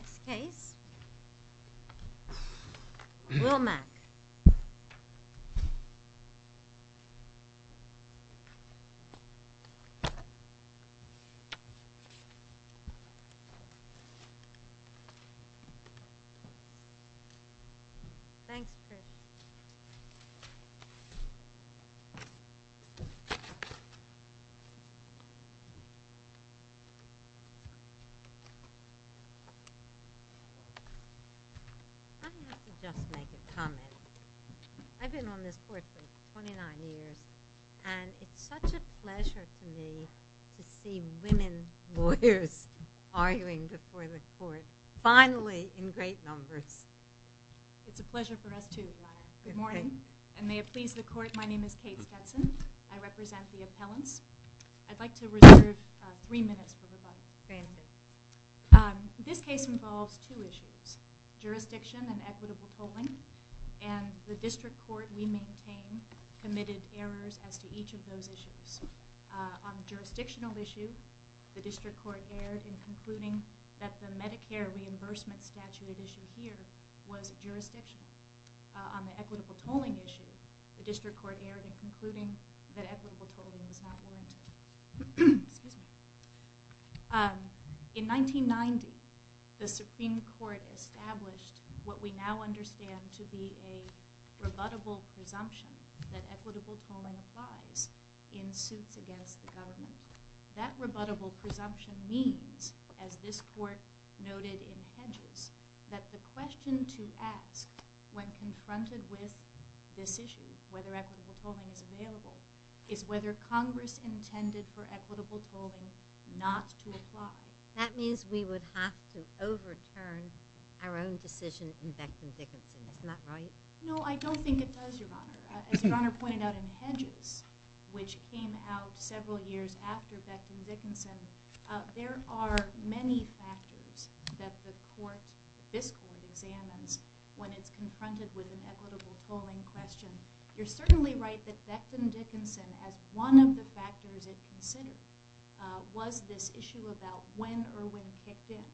This case, Wilmac. I have to just make a comment. I've been on this court for 29 years, and it's such a pleasure to me to see women lawyers arguing before the court, finally in great numbers. It's a pleasure for us too, Your Honor. Good morning, and may it please the court, my name is Kate Stetson. I represent the appellants. This case involves two issues, jurisdiction and equitable tolling, and the district court we maintain committed errors as to each of those issues. On the jurisdictional issue, the district court erred in concluding that the Medicare reimbursement statute at issue here was jurisdictional. On the equitable tolling issue, the district court erred in concluding that equitable tolling was not warranted. In 1990, the Supreme Court established what we now understand to be a rebuttable presumption that equitable tolling applies in suits against the government. That rebuttable presumption means, as this court noted in Hedges, that the question to ask when confronted with this issue, whether equitable tolling is available, is whether Congress intended for equitable tolling not to apply. That means we would have to overturn our own decision in Becton-Dickinson. Isn't that right? No, I don't think it does, Your Honor. As Your Honor pointed out in Hedges, which came out several years after Becton-Dickinson, there are many factors that the court, this court examines when it's confronted with an equitable tolling question. You're certainly right that Becton-Dickinson, as one of the factors it considered, was this issue about when Irwin kicked in,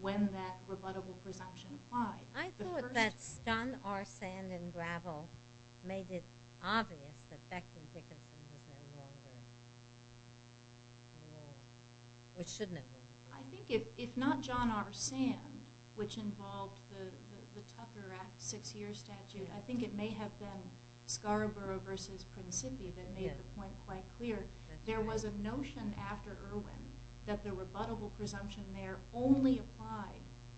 when that rebuttable presumption applied. I thought that John R. Sand and Gravel made it obvious that Becton-Dickinson was no longer in law, which shouldn't have been. I think if not John R. Sand, which involved the Tucker Act six-year statute, I think it may have been Scarborough v. Principia that made the point quite clear. There was a notion after Irwin that the rebuttable presumption there only applied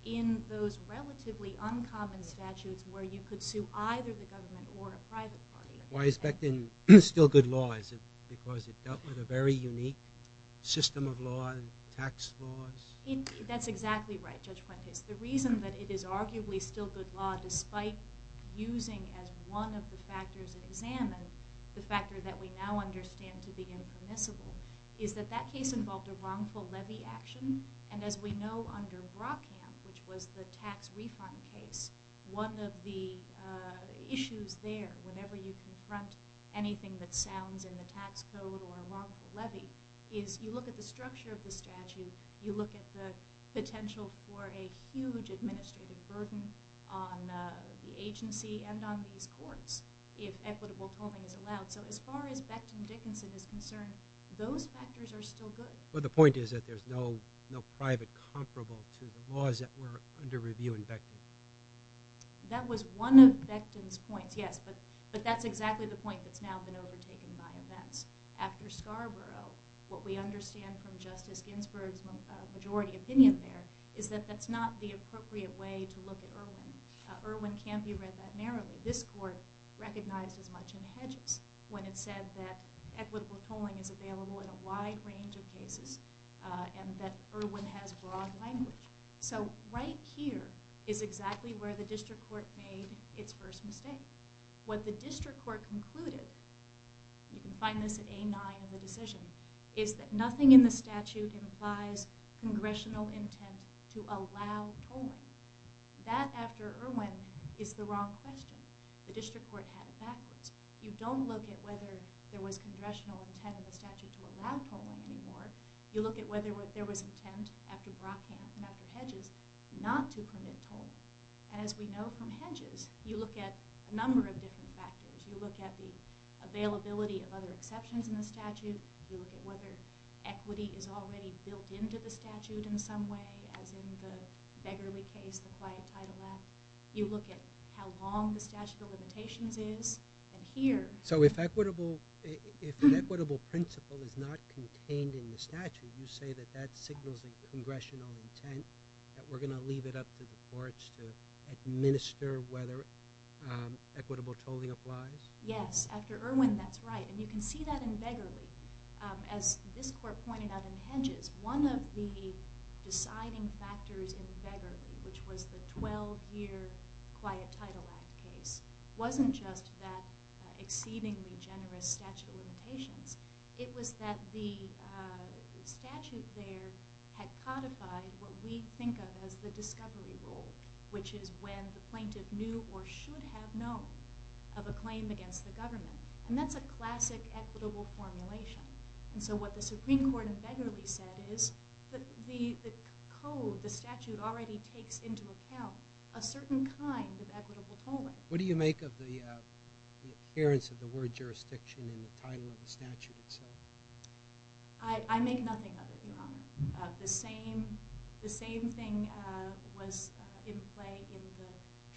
in those relatively uncommon statutes where you could sue either the government or a private party. Why is Becton still good law? Is it because it dealt with a very unique system of law and tax laws? That's exactly right, Judge Fuentes. The reason that it is arguably still good law despite using as one of the factors examined the factor that we now understand to be impermissible is that that case involved a wrongful levy action. As we know under Brockamp, which was the tax refund case, one of the issues there whenever you confront anything that sounds in the tax code or a wrongful levy is you look at the structure of the statute, you look at the potential for a huge administrative burden on the agency and on these courts if equitable tolling is allowed. So as far as Becton-Dickinson is concerned, those factors are still good. But the point is that there's no private comparable to the laws that were under review in Becton. That was one of Becton's points, yes, but that's exactly the point that's now been overtaken by events. After Scarborough, what we understand from Justice Ginsburg's majority opinion there is that that's not the appropriate way to look at Irwin. Irwin can't be read that narrowly. This court recognized as much in Hedges when it said that equitable tolling is available in a wide range of cases and that Irwin has broad language. So right here is exactly where the district court made its first mistake. What the district court concluded, you can find this at A-9 in the decision, is that nothing in the statute implies congressional intent to allow tolling. That, after Irwin, is the wrong question. The district court had it backwards. You don't look at whether there was congressional intent in the statute to allow tolling anymore. You look at whether there was intent after Brockamp and after Hedges not to permit tolling. And as we know from Hedges, you look at a number of different factors. You look at the availability of other exceptions in the statute. You look at whether equity is already built into the statute in some way, as in the Begerle case, the Quiet Title Act. You look at how long the statute of limitations is. And here... So if equitable principle is not contained in the statute, you say that that signals a congressional intent, that we're going to leave it up to the courts to administer whether equitable tolling applies? Yes. After Irwin, that's right. And you can see that in Begerle. As this court pointed out in Hedges, one of the deciding factors in Begerle, which was the 12-year Quiet Title Act case, wasn't just that exceedingly generous statute of limitations. It was that the statute there had codified what we think of as the discovery rule, which is when the plaintiff knew or should have known of a claim against the government. And that's a classic equitable formulation. And so what the Supreme Court in Begerle said is that the code, the statute, already takes into account a certain kind of equitable tolling. What do you make of the appearance of the word jurisdiction in the title of the statute itself? I make nothing of it, Your Honor. The same thing was in play in the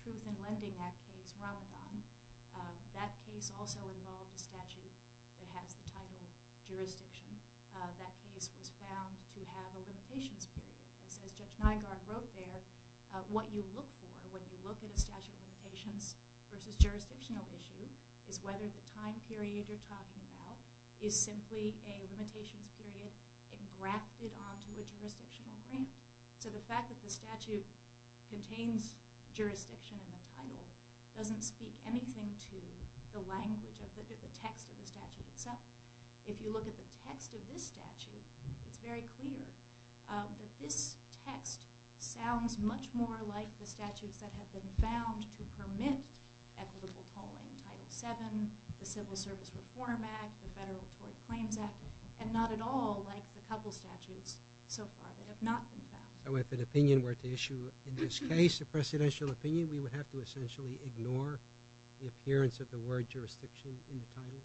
Truth in Lending Act case, Ramadan. That case also involved a statute that has the title jurisdiction. That case was found to have a limitations period. As Judge Nygaard wrote there, what you look for when you look at a statute of limitations versus jurisdictional issue is whether the time period you're talking about is simply a limitations period engrafted onto a jurisdictional grant. So the fact that the statute contains jurisdiction in the title doesn't speak anything to the language of the text of the statute itself. If you look at the text of this statute, it's very clear that this text sounds much more like the statutes that have been found to permit equitable tolling, Title VII, the Civil Service Reform Act, the Federal Tort Claims Act, and not at all like the couple statutes so far that have not been found. So if an opinion were to issue in this case a presidential opinion, we would have to essentially ignore the appearance of the word jurisdiction in the title?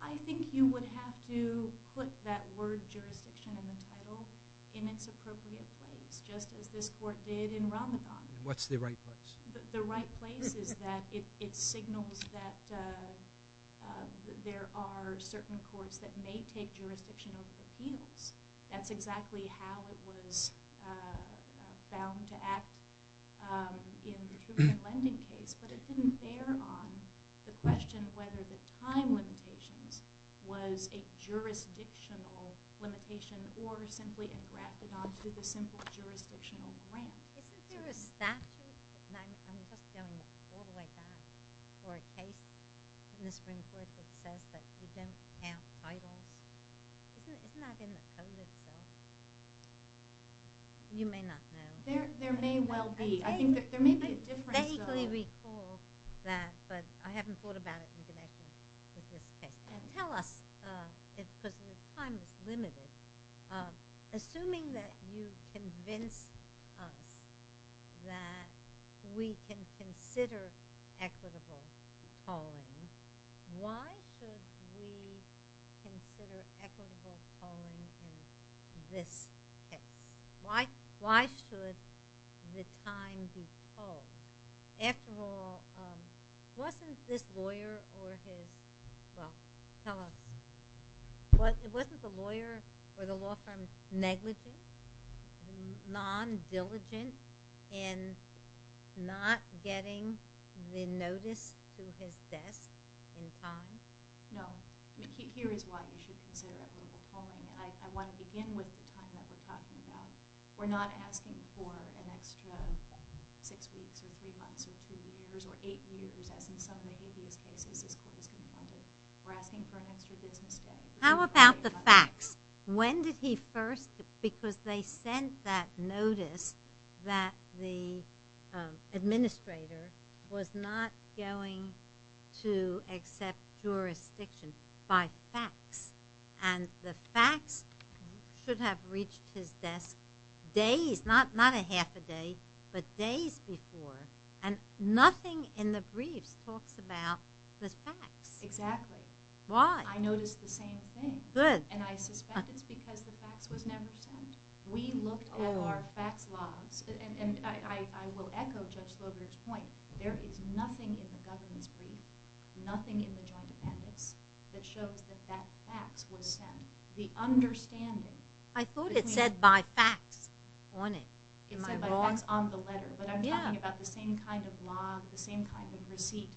I think you would have to put that word jurisdiction in the title in its appropriate place, just as this court did in Ramadan. What's the right place? The right place is that it signals that there are certain courts that may take jurisdictional appeals. That's exactly how it was found to act in the Truman Lending case, but it didn't bear on the question whether the time limitations was a jurisdictional limitation or simply engrafted onto the simple jurisdictional grant. Isn't there a statute, and I'm just going all the way back, for a case in the Supreme Court that says that you don't count titles? Isn't that in the code itself? You may not know. There may well be. I think there may be a difference. I vaguely recall that, but I haven't thought about it in connection with this case. Tell us, because your time is limited, assuming that you convinced us that we can consider equitable calling, why should we consider equitable calling in this case? Why should the time be called? After all, wasn't this lawyer or his, well, tell us, wasn't the lawyer or the law firm negligent, non-diligent in not getting the notice to his desk in time? No. Here is why you should consider equitable calling. I want to begin with the time that we're talking about. We're not asking for an extra six weeks or three months or two years or eight years, as in some of the habeas cases this court has confronted. We're asking for an extra business day. How about the facts? When did he first, because they sent that notice that the administrator was not going to accept jurisdiction by facts? And the facts should have reached his desk days, not a half a day, but days before. And nothing in the briefs talks about the facts. Exactly. Why? I noticed the same thing. Good. And I suspect it's because the facts was never sent. We looked at our facts logs, and I will echo Judge Slogart's point, there is nothing in the government's brief, nothing in the joint appendix that shows that that facts was sent. The understanding I thought it said by facts on it. It said by facts on the letter, but I'm talking about the same kind of log, the same kind of receipt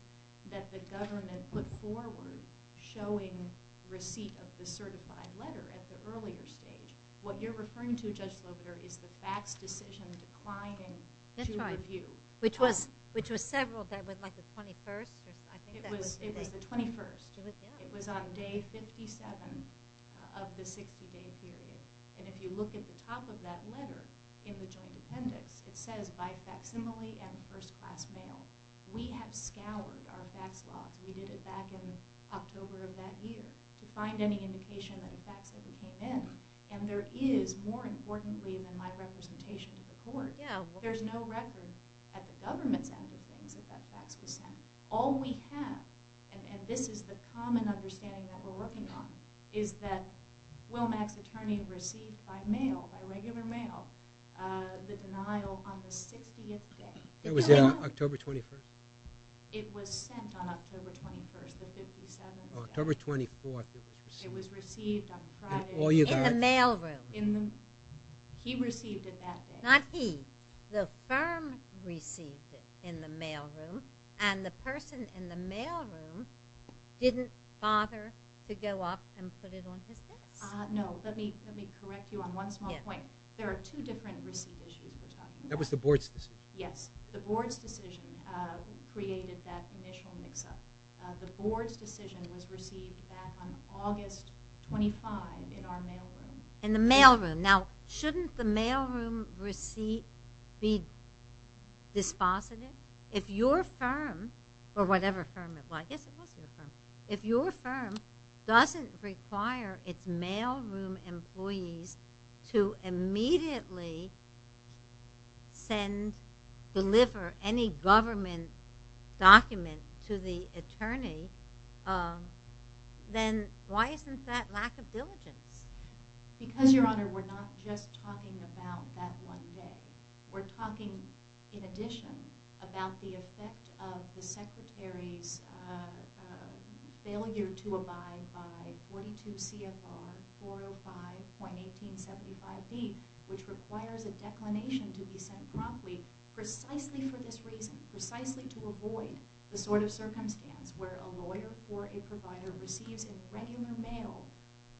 that the government put forward showing receipt of the certified letter at the earlier stage. What you're referring to, Judge Slogart, is the facts decision declining to review. Which was several, like the 21st? It was the 21st. It was on day 57 of the 60 day period. And if you look at the top of that letter in the joint appendix, it says by facsimile and first class mail. We have scoured our facts logs, we did it back in October of that year, to find any indication that the facts ever came in. And there is, more importantly than my representation to the court, there's no record at the government's end of things that that facts was sent. All we have, and this is the common understanding that we're working on, is that Wilmax attorney received by mail, by regular mail, the denial on the 60th day. It was on October 21st? It was sent on October 21st, the 57th. October 24th it was received. It was received on Friday. In the mail room. He received it that day. Not he. The firm received it in the mail room, and the person in the mail room didn't bother to go up and put it on his desk. No, let me correct you on one small point. There are two different receipt issues we're talking about. That was the board's decision. Yes. The board's decision created that initial mix up. The board's decision was received back on August 25 in our mail room. In the mail room. Now, shouldn't the mail room receipt be dispositive? If your firm, or whatever firm it was, I guess it was your firm, if your firm doesn't require its mail room employees to immediately send, deliver any government document to the attorney, then why isn't that lack of diligence? Because, Your Honor, we're not just talking about that one day. We're talking in addition about the effect of the Secretary's failure to abide by 42 CFR 405.1875B, which requires a declination to be sent promptly precisely for this reason, precisely to avoid the sort of circumstance where a lawyer or a provider receives in regular mail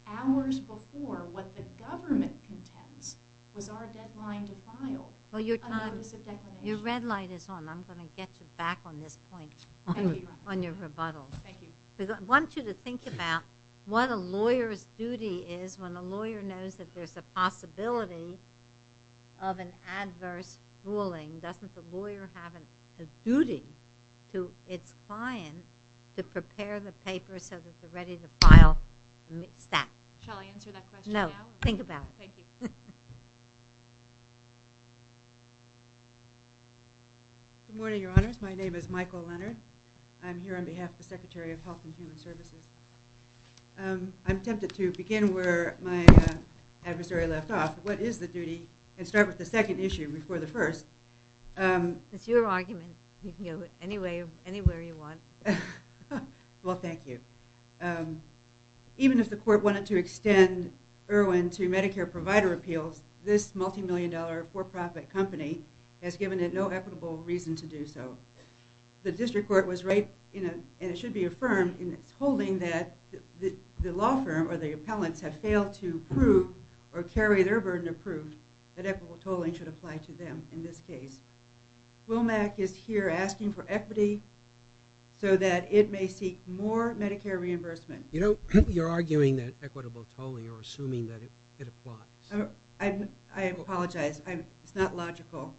hours before what the government contends was our deadline to file a notice of declination. Your red light is on. I'm going to get you back on this point. Thank you, Your Honor. On your rebuttal. Thank you. I want you to think about what a lawyer's duty is when a lawyer knows that there's a possibility of an adverse ruling. Doesn't the lawyer have a duty to its client to prepare the paper so that they're ready to file that? Shall I answer that question now? No. Think about it. Thank you. Good morning, Your Honors. My name is Michael Leonard. I'm here on behalf of the Secretary of Health and Human Services. I'm tempted to begin where my adversary left off. What is the duty? And start with the second issue before the first. It's your argument. You can go anywhere you want. Well, thank you. Even if the court wanted to extend Irwin to Medicare provider appeals, this multi-million dollar for-profit company has given it no equitable reason to do so. The district court was right and it should be affirmed in its holding that the law firm or the appellants have failed to prove or carry their burden of proof that equitable tolling should apply to them in this case. WOMAC is here asking for equity so that it may seek more Medicare reimbursement. You're arguing that equitable tolling or assuming that it applies. I apologize. It's not logical.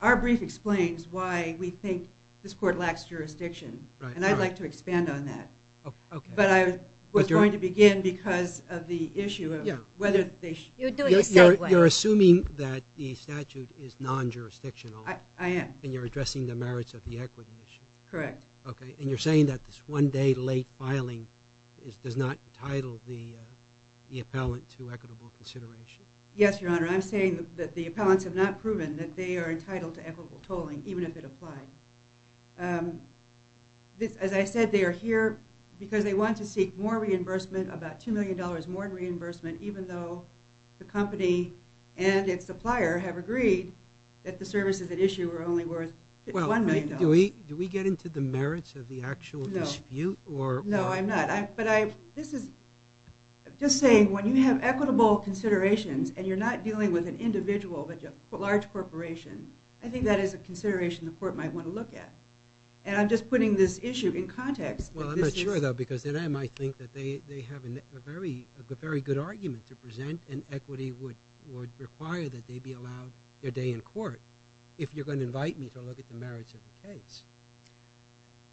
Our brief explains why we think this court lacks jurisdiction. And I'd like to expand on that. But I was going to begin because of the You're assuming that the statute is non-jurisdictional. I am. And you're addressing the merits of the equity issue. Correct. And you're saying that this one day late filing does not entitle the appellant to equitable consideration. Yes, Your Honor. I'm saying that the appellants have not proven that they are entitled to equitable tolling even if it applied. As I said, they are here because they want to seek more reimbursement, about two million dollars more reimbursement even though the company and its supplier have agreed that the services at issue are only worth one million dollars. Do we get into the merits of the actual dispute? No. No, I'm not. But this is just saying when you have equitable considerations and you're not dealing with an individual but a large corporation, I think that is a consideration the court might want to look at. And I'm just putting this issue in context. Well, I'm not sure though because then I might think that they have a very good argument to present and equity would require that they be allowed their day in court if you're going to invite me to look at the merits of the case.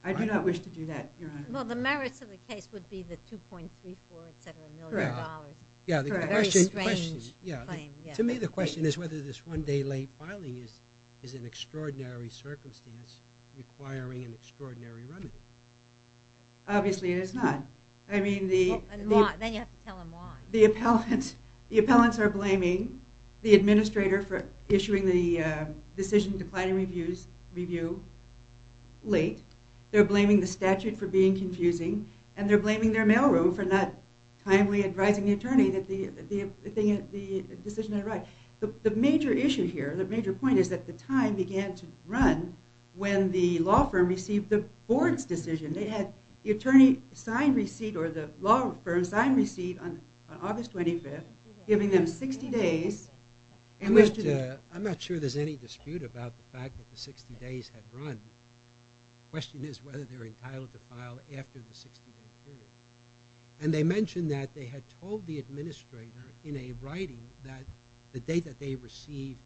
I do not wish to do that, Your Honor. Well, the merits of the case would be the 2.34, et cetera, million dollars. Correct. Correct. Very strange claim. Yeah. To me the question is whether this one day late filing is an extraordinary circumstance requiring an extraordinary remedy. Obviously it is not. Then you have to tell them why. The appellants are blaming the administrator for issuing the decision declining review late. They're blaming the statute for being confusing and they're blaming their mailroom for not timely advising the attorney that the decision had arrived. The major issue here, the major point is that the time began to run when the board's decision, they had the attorney sign receipt or the law firm sign receipt on August 25th giving them 60 days in which to... I'm not sure there's any dispute about the fact that the 60 days had run. The question is whether they're entitled to file after the 60 day period. And they mentioned that they had told the administrator in a writing that the date that they received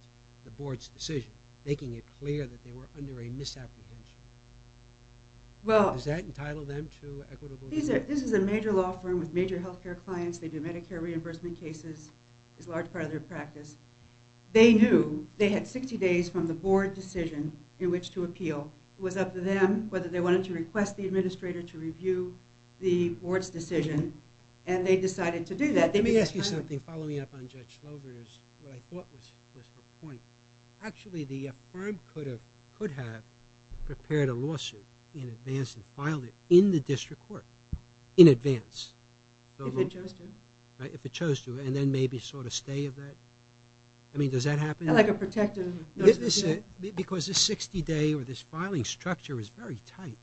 the board's decision, making it clear that they were under a misapprehension. Does that entitle them to equitable review? This is a major law firm with major health care clients. They do Medicare reimbursement cases. It's a large part of their practice. They knew they had 60 days from the board decision in which to appeal. It was up to them whether they wanted to request the administrator to review the board's decision and they decided to do that. Let me ask you something following up on Judge Slover's, what I thought was her point. Actually the firm could have prepared a lawsuit in advance and filed it in the district court in advance. If it chose to. If it chose to and then maybe sort of stay of that. I mean does that happen? Like a protective... Because the 60 day or this filing structure is very tight.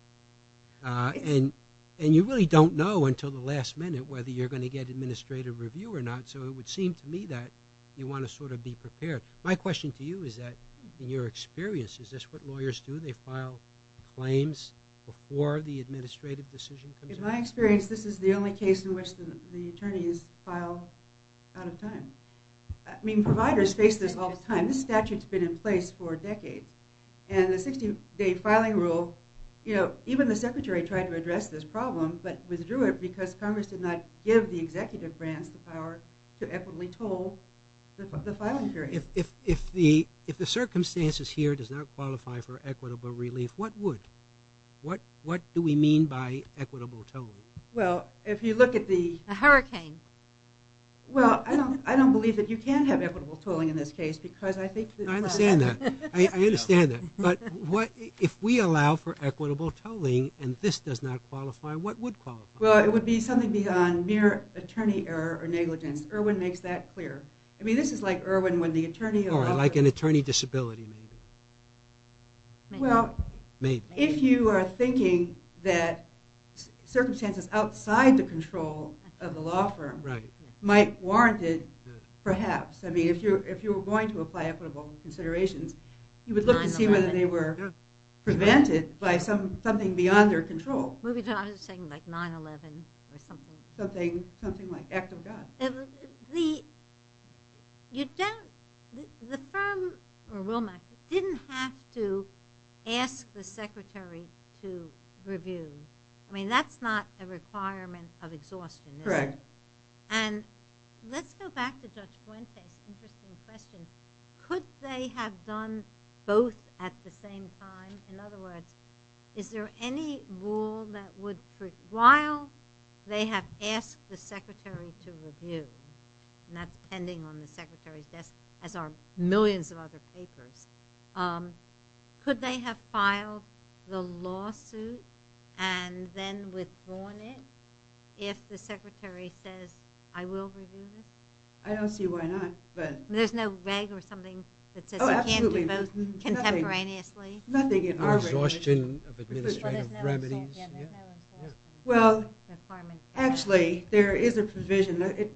And you really don't know until the last minute whether you're going to get administrative review or not. So it would seem to me that you want to sort of be prepared. My question to you is that in your experience is this what lawyers do? They file claims before the administrative decision comes up? In my experience this is the only case in which the attorneys file out of time. I mean providers face this all the time. This statute has been in place for decades. And the 60 day filing rule you know even the secretary tried to address this problem but withdrew it because Congress did not give the executive branch the power to equitably toll the filing period. If the circumstances here does not qualify for equitable relief what would? What do we mean by equitable tolling? Well if you look at the... A hurricane. Well I don't believe that you can have equitable tolling in this case because I think... I understand that. But if we allow for equitable tolling and this does not qualify what would qualify? Well it would be something beyond mere attorney error or negligence. Irwin makes that clear. I mean this is like Irwin when the attorney... Or like an attorney disability maybe. Well if you are thinking that circumstances outside the control of the law firm might warrant it perhaps. I mean if you were going to apply equitable considerations you would look to see whether they were prevented by something beyond their control. I was saying like 9-11 or something. Something like that. You don't... The firm didn't have to ask the secretary to review. I mean that's not a requirement of exhaustion. Correct. And let's go back to Judge Fuentes interesting question. Could they have done both at the same time? In other words is there any rule that would... While they have asked the secretary to review and that's pending on the secretary's desk as are millions of other papers. Could they have filed the lawsuit and then withdrawn it if the secretary says I will review this? I don't see why not. There's no reg or something that says you can't do both contemporaneously? Nothing in our reg. Well actually there is a provision.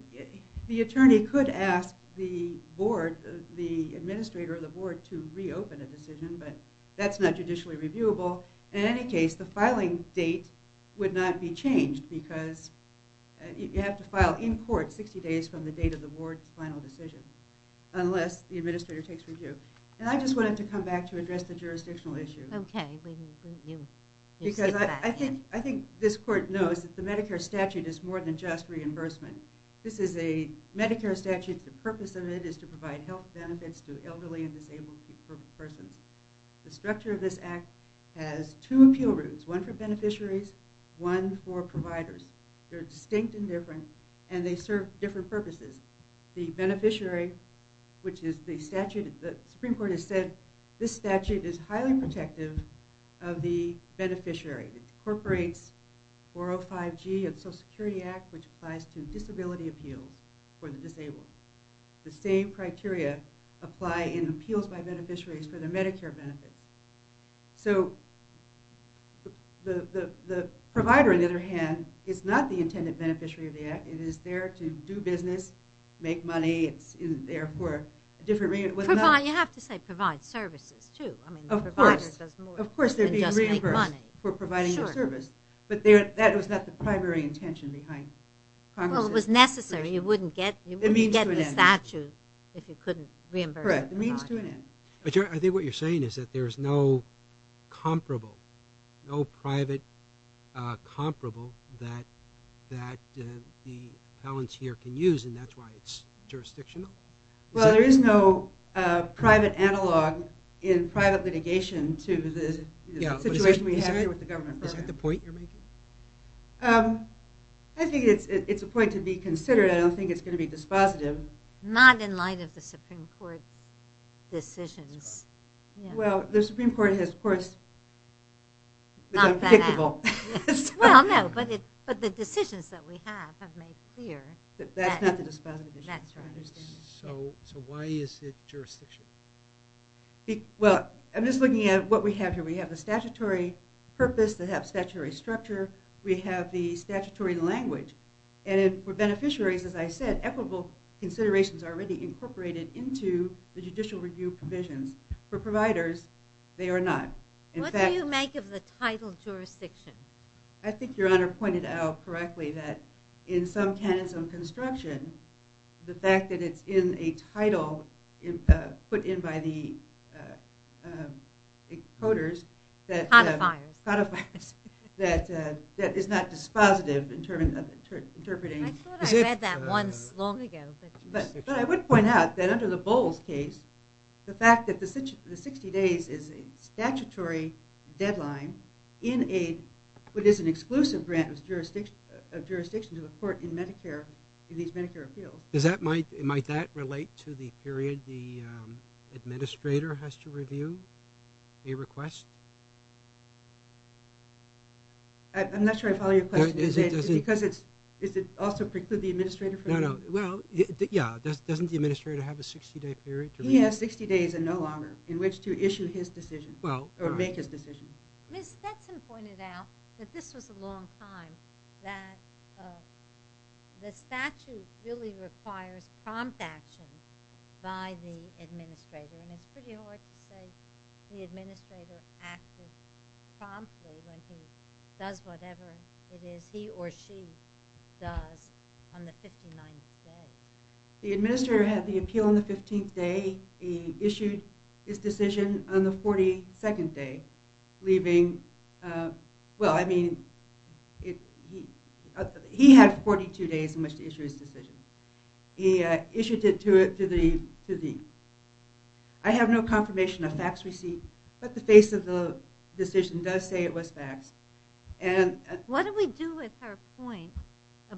The attorney could ask the board, the administrator of the board to reopen a decision but that's not judicially reviewable. In any case the filing date would not be changed because you have to file in court 60 days from the date of the board's final decision unless the administrator takes review. And I just wanted to come back to address the jurisdictional issue. Okay. I think this court knows that the Medicare statute is more than just reimbursement. This is a Medicare statute. The purpose of it is to provide health benefits to elderly and disabled persons. The structure of this act has two appeal routes. One for beneficiaries one for providers. They're distinct and different and they serve different purposes. The beneficiary which is the statute the Supreme Court has said this statute is highly protective of the beneficiary. It incorporates 405G of the Social Security Act which applies to disability appeals for the disabled. The same criteria apply in appeals by beneficiaries for their Medicare benefits. So the provider on the other hand is not the intended beneficiary of the act. It is there to do business, make money it's there for a different reason. You have to say provide services too. Of course. Of course they're being reimbursed for providing their service. But that was not the primary intention behind Congress. Well it was necessary. You wouldn't get the statute if you couldn't reimburse. Correct. It means to an end. I think what you're saying is that there's no comparable, no private comparable that the appellants here can use and that's why it's jurisdictional. Well there is no private analog in private litigation to the situation we have here with the government. Is that the point you're making? I think it's a point to be considered. I don't think it's going to be dispositive. Not in light of the Supreme Court decisions. Well the Supreme Court has courts that are pickable. Well no but the decisions that we have have made clear. That's not the dispositive issue. So why is it jurisdictional? I'm just looking at what we have here. We have the statutory purpose. We have statutory structure. We have the statutory language. For beneficiaries as I said equitable considerations are already incorporated into the judicial review provisions. For providers they are not. What do you make of the title jurisdiction? I think your honor pointed out correctly that in some canons of construction the fact that it's in a title put in by the codifiers that is not dispositive interpreting. I thought I read that once long ago. But I would point out that under the Bowles case the fact that the 60 days is a statutory deadline in what is an exclusive grant of jurisdiction to the court in these Medicare appeals. Might that relate to the period the administrator has to review a request? I'm not sure I follow your question. Does it also preclude the administrator? Doesn't the administrator have a 60 day period? He has 60 days and no longer in which to make his decision. Ms. Stetson pointed out that this was a long time that the statute really requires prompt action by the administrator and it's pretty hard to say the administrator acted promptly when he does whatever it is he or she does on the 59th day. The administrator had the appeal on the 15th day. He issued his decision on the 42nd day leaving well, I mean, he had 42 days in which to issue his decision. He issued it to the I have no confirmation of facts received but the face of the decision does say it was facts. What do we do with her point?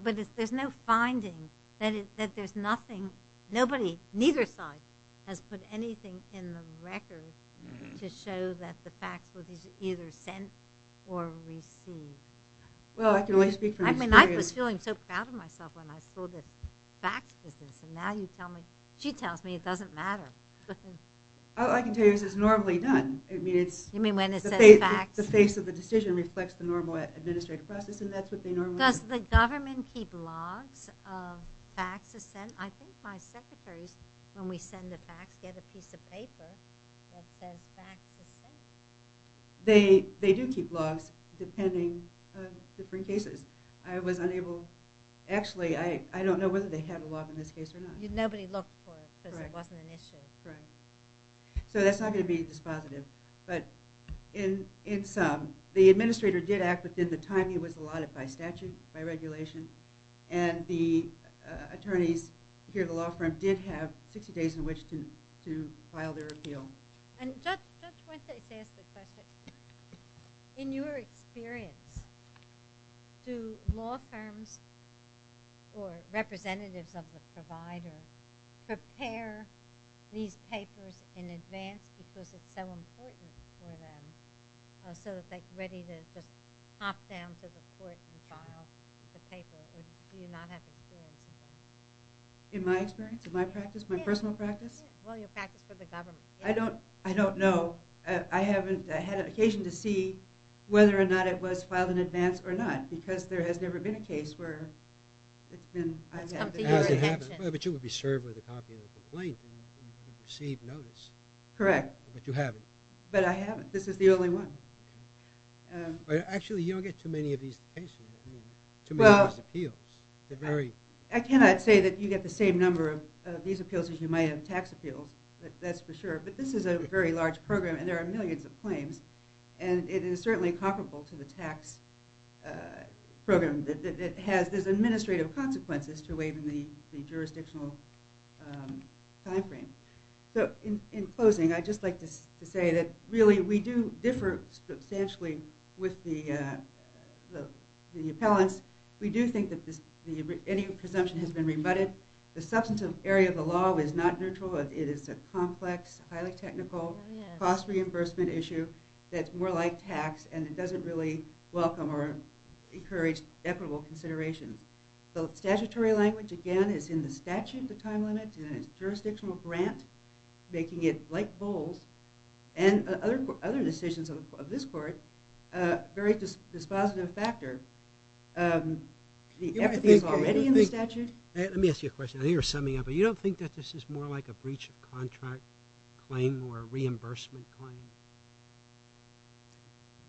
But there's no finding that there's nothing, nobody, neither side has put anything in the record to show that the facts were either sent or received. Well, I can only speak I mean, I was feeling so proud of myself when I sold the facts business and now you tell me, she tells me it doesn't matter. All I can tell you is it's normally done. You mean when it says facts? The face of the decision reflects the normal administrative process and that's what they normally do. Does the government keep logs of facts sent? I think my secretaries when we send the facts get a piece of paper that says facts are sent. They do keep logs depending on different cases. I was unable, actually I don't know whether they have a log in this case or not. Nobody looked for it because it wasn't an issue. Right. So that's not going to be dispositive but in sum, the administrator did act within the time he was allotted by statute, by regulation, and the 60 days in which to file their appeal. Judge Wentz asked a question. In your experience do law firms or representatives of the provider prepare these papers in advance because it's so important for them so that they're ready to just hop down to the court and file the paper or do you not have experience in that? In my experience? In my practice? My personal practice? I don't know. I haven't had an occasion to see whether or not it was filed in advance or not because there has never been a case where it's been... But you would be served with a copy of the complaint and receive notice. Correct. But you haven't. But I haven't. This is the only one. Actually you don't get too many of these cases. I cannot say that you get the same number of these appeals as you might have tax appeals. That's for sure. But this is a very large program and there are millions of claims and it is certainly comparable to the tax program. There's administrative consequences to waiving the jurisdictional time frame. So in closing I'd just like to say that really we do differ substantially with the appellants. We do think that any presumption has been rebutted. The substantive area of the law is not neutral. It is a complex, highly technical, cost reimbursement issue that's more like tax and it doesn't really welcome or encourage equitable consideration. The statutory language again is in the statute, the time limit, and it's jurisdictional grant making it like bowls and other decisions of this court. Very dispositive factor. Everything is already in the statute. Let me ask you a question. I think you're summing up. You don't think that this is more like a breach of contract claim or reimbursement claim?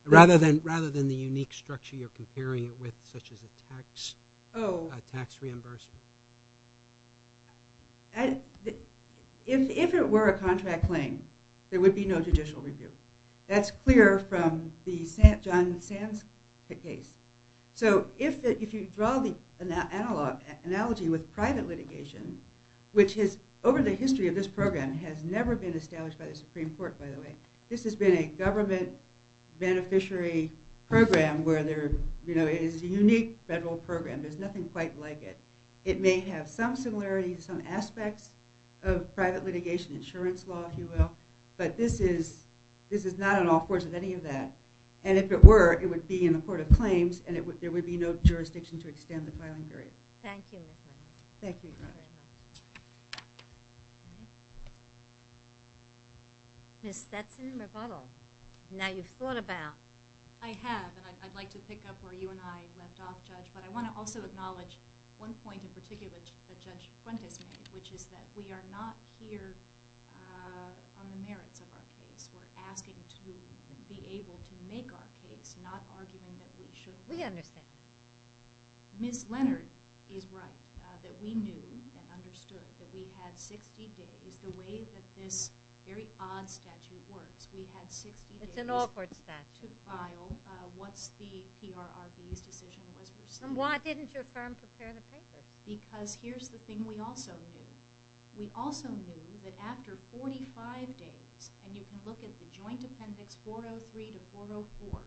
Rather than the unique structure you're comparing it with such as a tax reimbursement? If it were a contract claim there would be no judicial review. That's clear from the John Sands case. So if you draw the analogy with private litigation, which is over the history of this program has never been established by the Supreme Court by the way. This has been a government beneficiary program where there is a unique federal program. There's nothing quite like it. It may have some similarities, some aspects of private litigation insurance law if you will, but this is not an off course of any of that. And if it were, it would be in the court of claims and there would be no jurisdiction to extend the filing period. Thank you. Ms. Stetson-Rebuttal, now you've thought about. I have and I'd like to pick up where you and I left off Judge, but I want to also acknowledge one point in particular that Judge Fuentes made, which is that we are not here on the merits of our case. We're asking to be able to make our case, not arguing that we should. We understand. Ms. Leonard is right, that we knew and understood that we had 60 days the way that this very odd statute works. We had 60 days to file what's the PRRB's decision was. And why didn't your firm prepare the papers? Because here's the thing we also knew. We also knew that after 45 days, and you can look at the joint appendix 403 to 404,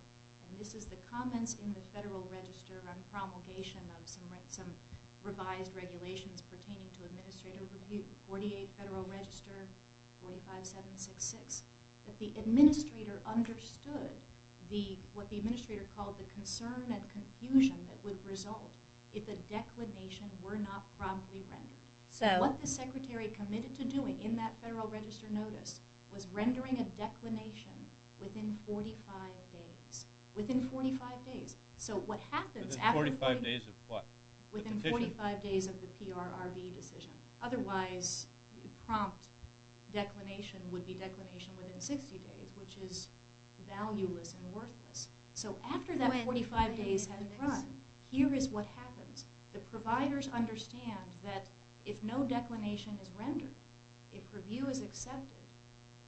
and this is the comments in the Federal Register on promulgation of some revised regulations pertaining to administrative review, 48 Federal Register, 45766, that the administrator understood what the administrator called the concern and confusion that would result if a declination were not promptly rendered. What the secretary committed to doing in that Federal Register notice was rendering a declination within 45 days. Within 45 days. Within 45 days of what? Within 45 days of the PRRB decision. Otherwise, prompt declination would be declination within 60 days, which is valueless and worthless. So after that 45 days has run, here is what happens. The providers understand that if no declination is rendered, if review is accepted,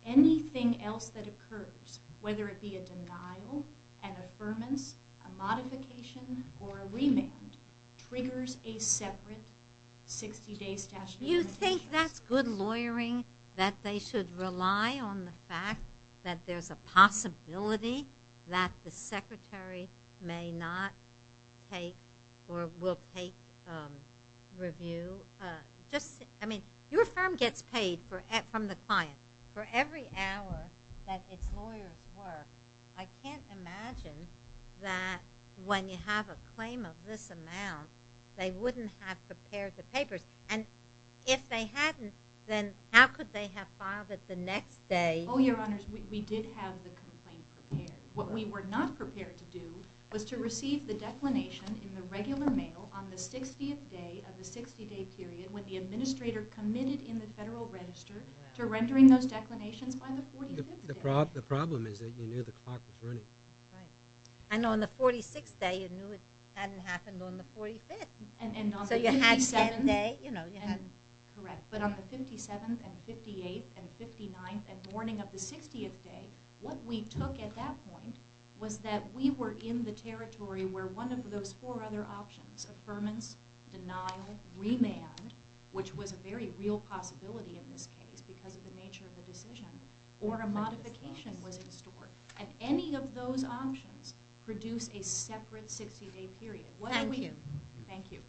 anything else that occurs, whether it be a denial, an affirmance, a modification, or a remand, triggers a separate 60 days statute. You think that's good lawyering? That they should rely on the fact that there's a possibility that the firm will take review? Your firm gets paid from the client for every hour that its lawyers work. I can't imagine that when you have a claim of this amount, they wouldn't have prepared the papers. If they hadn't, then how could they have filed it the next day? Oh, Your Honors, we did have the complaint prepared. What we were not prepared to do was to receive the declination in the regular mail on the 60th day of the 60-day period when the administrator committed in the Federal Register to rendering those declinations by the 45th day. The problem is that you knew the clock was running. And on the 46th day, you knew it hadn't happened on the 45th. So you had seven days. Correct, but on the 57th and 58th and 59th and morning of the 60th day, what we took at that point was that we were in the territory where one of those four other options, affirmance, denial, remand, which was a very real possibility in this case because of the nature of the decision, or a modification was in store. And any of those options produce a separate 60-day period. Thank you. Thank you.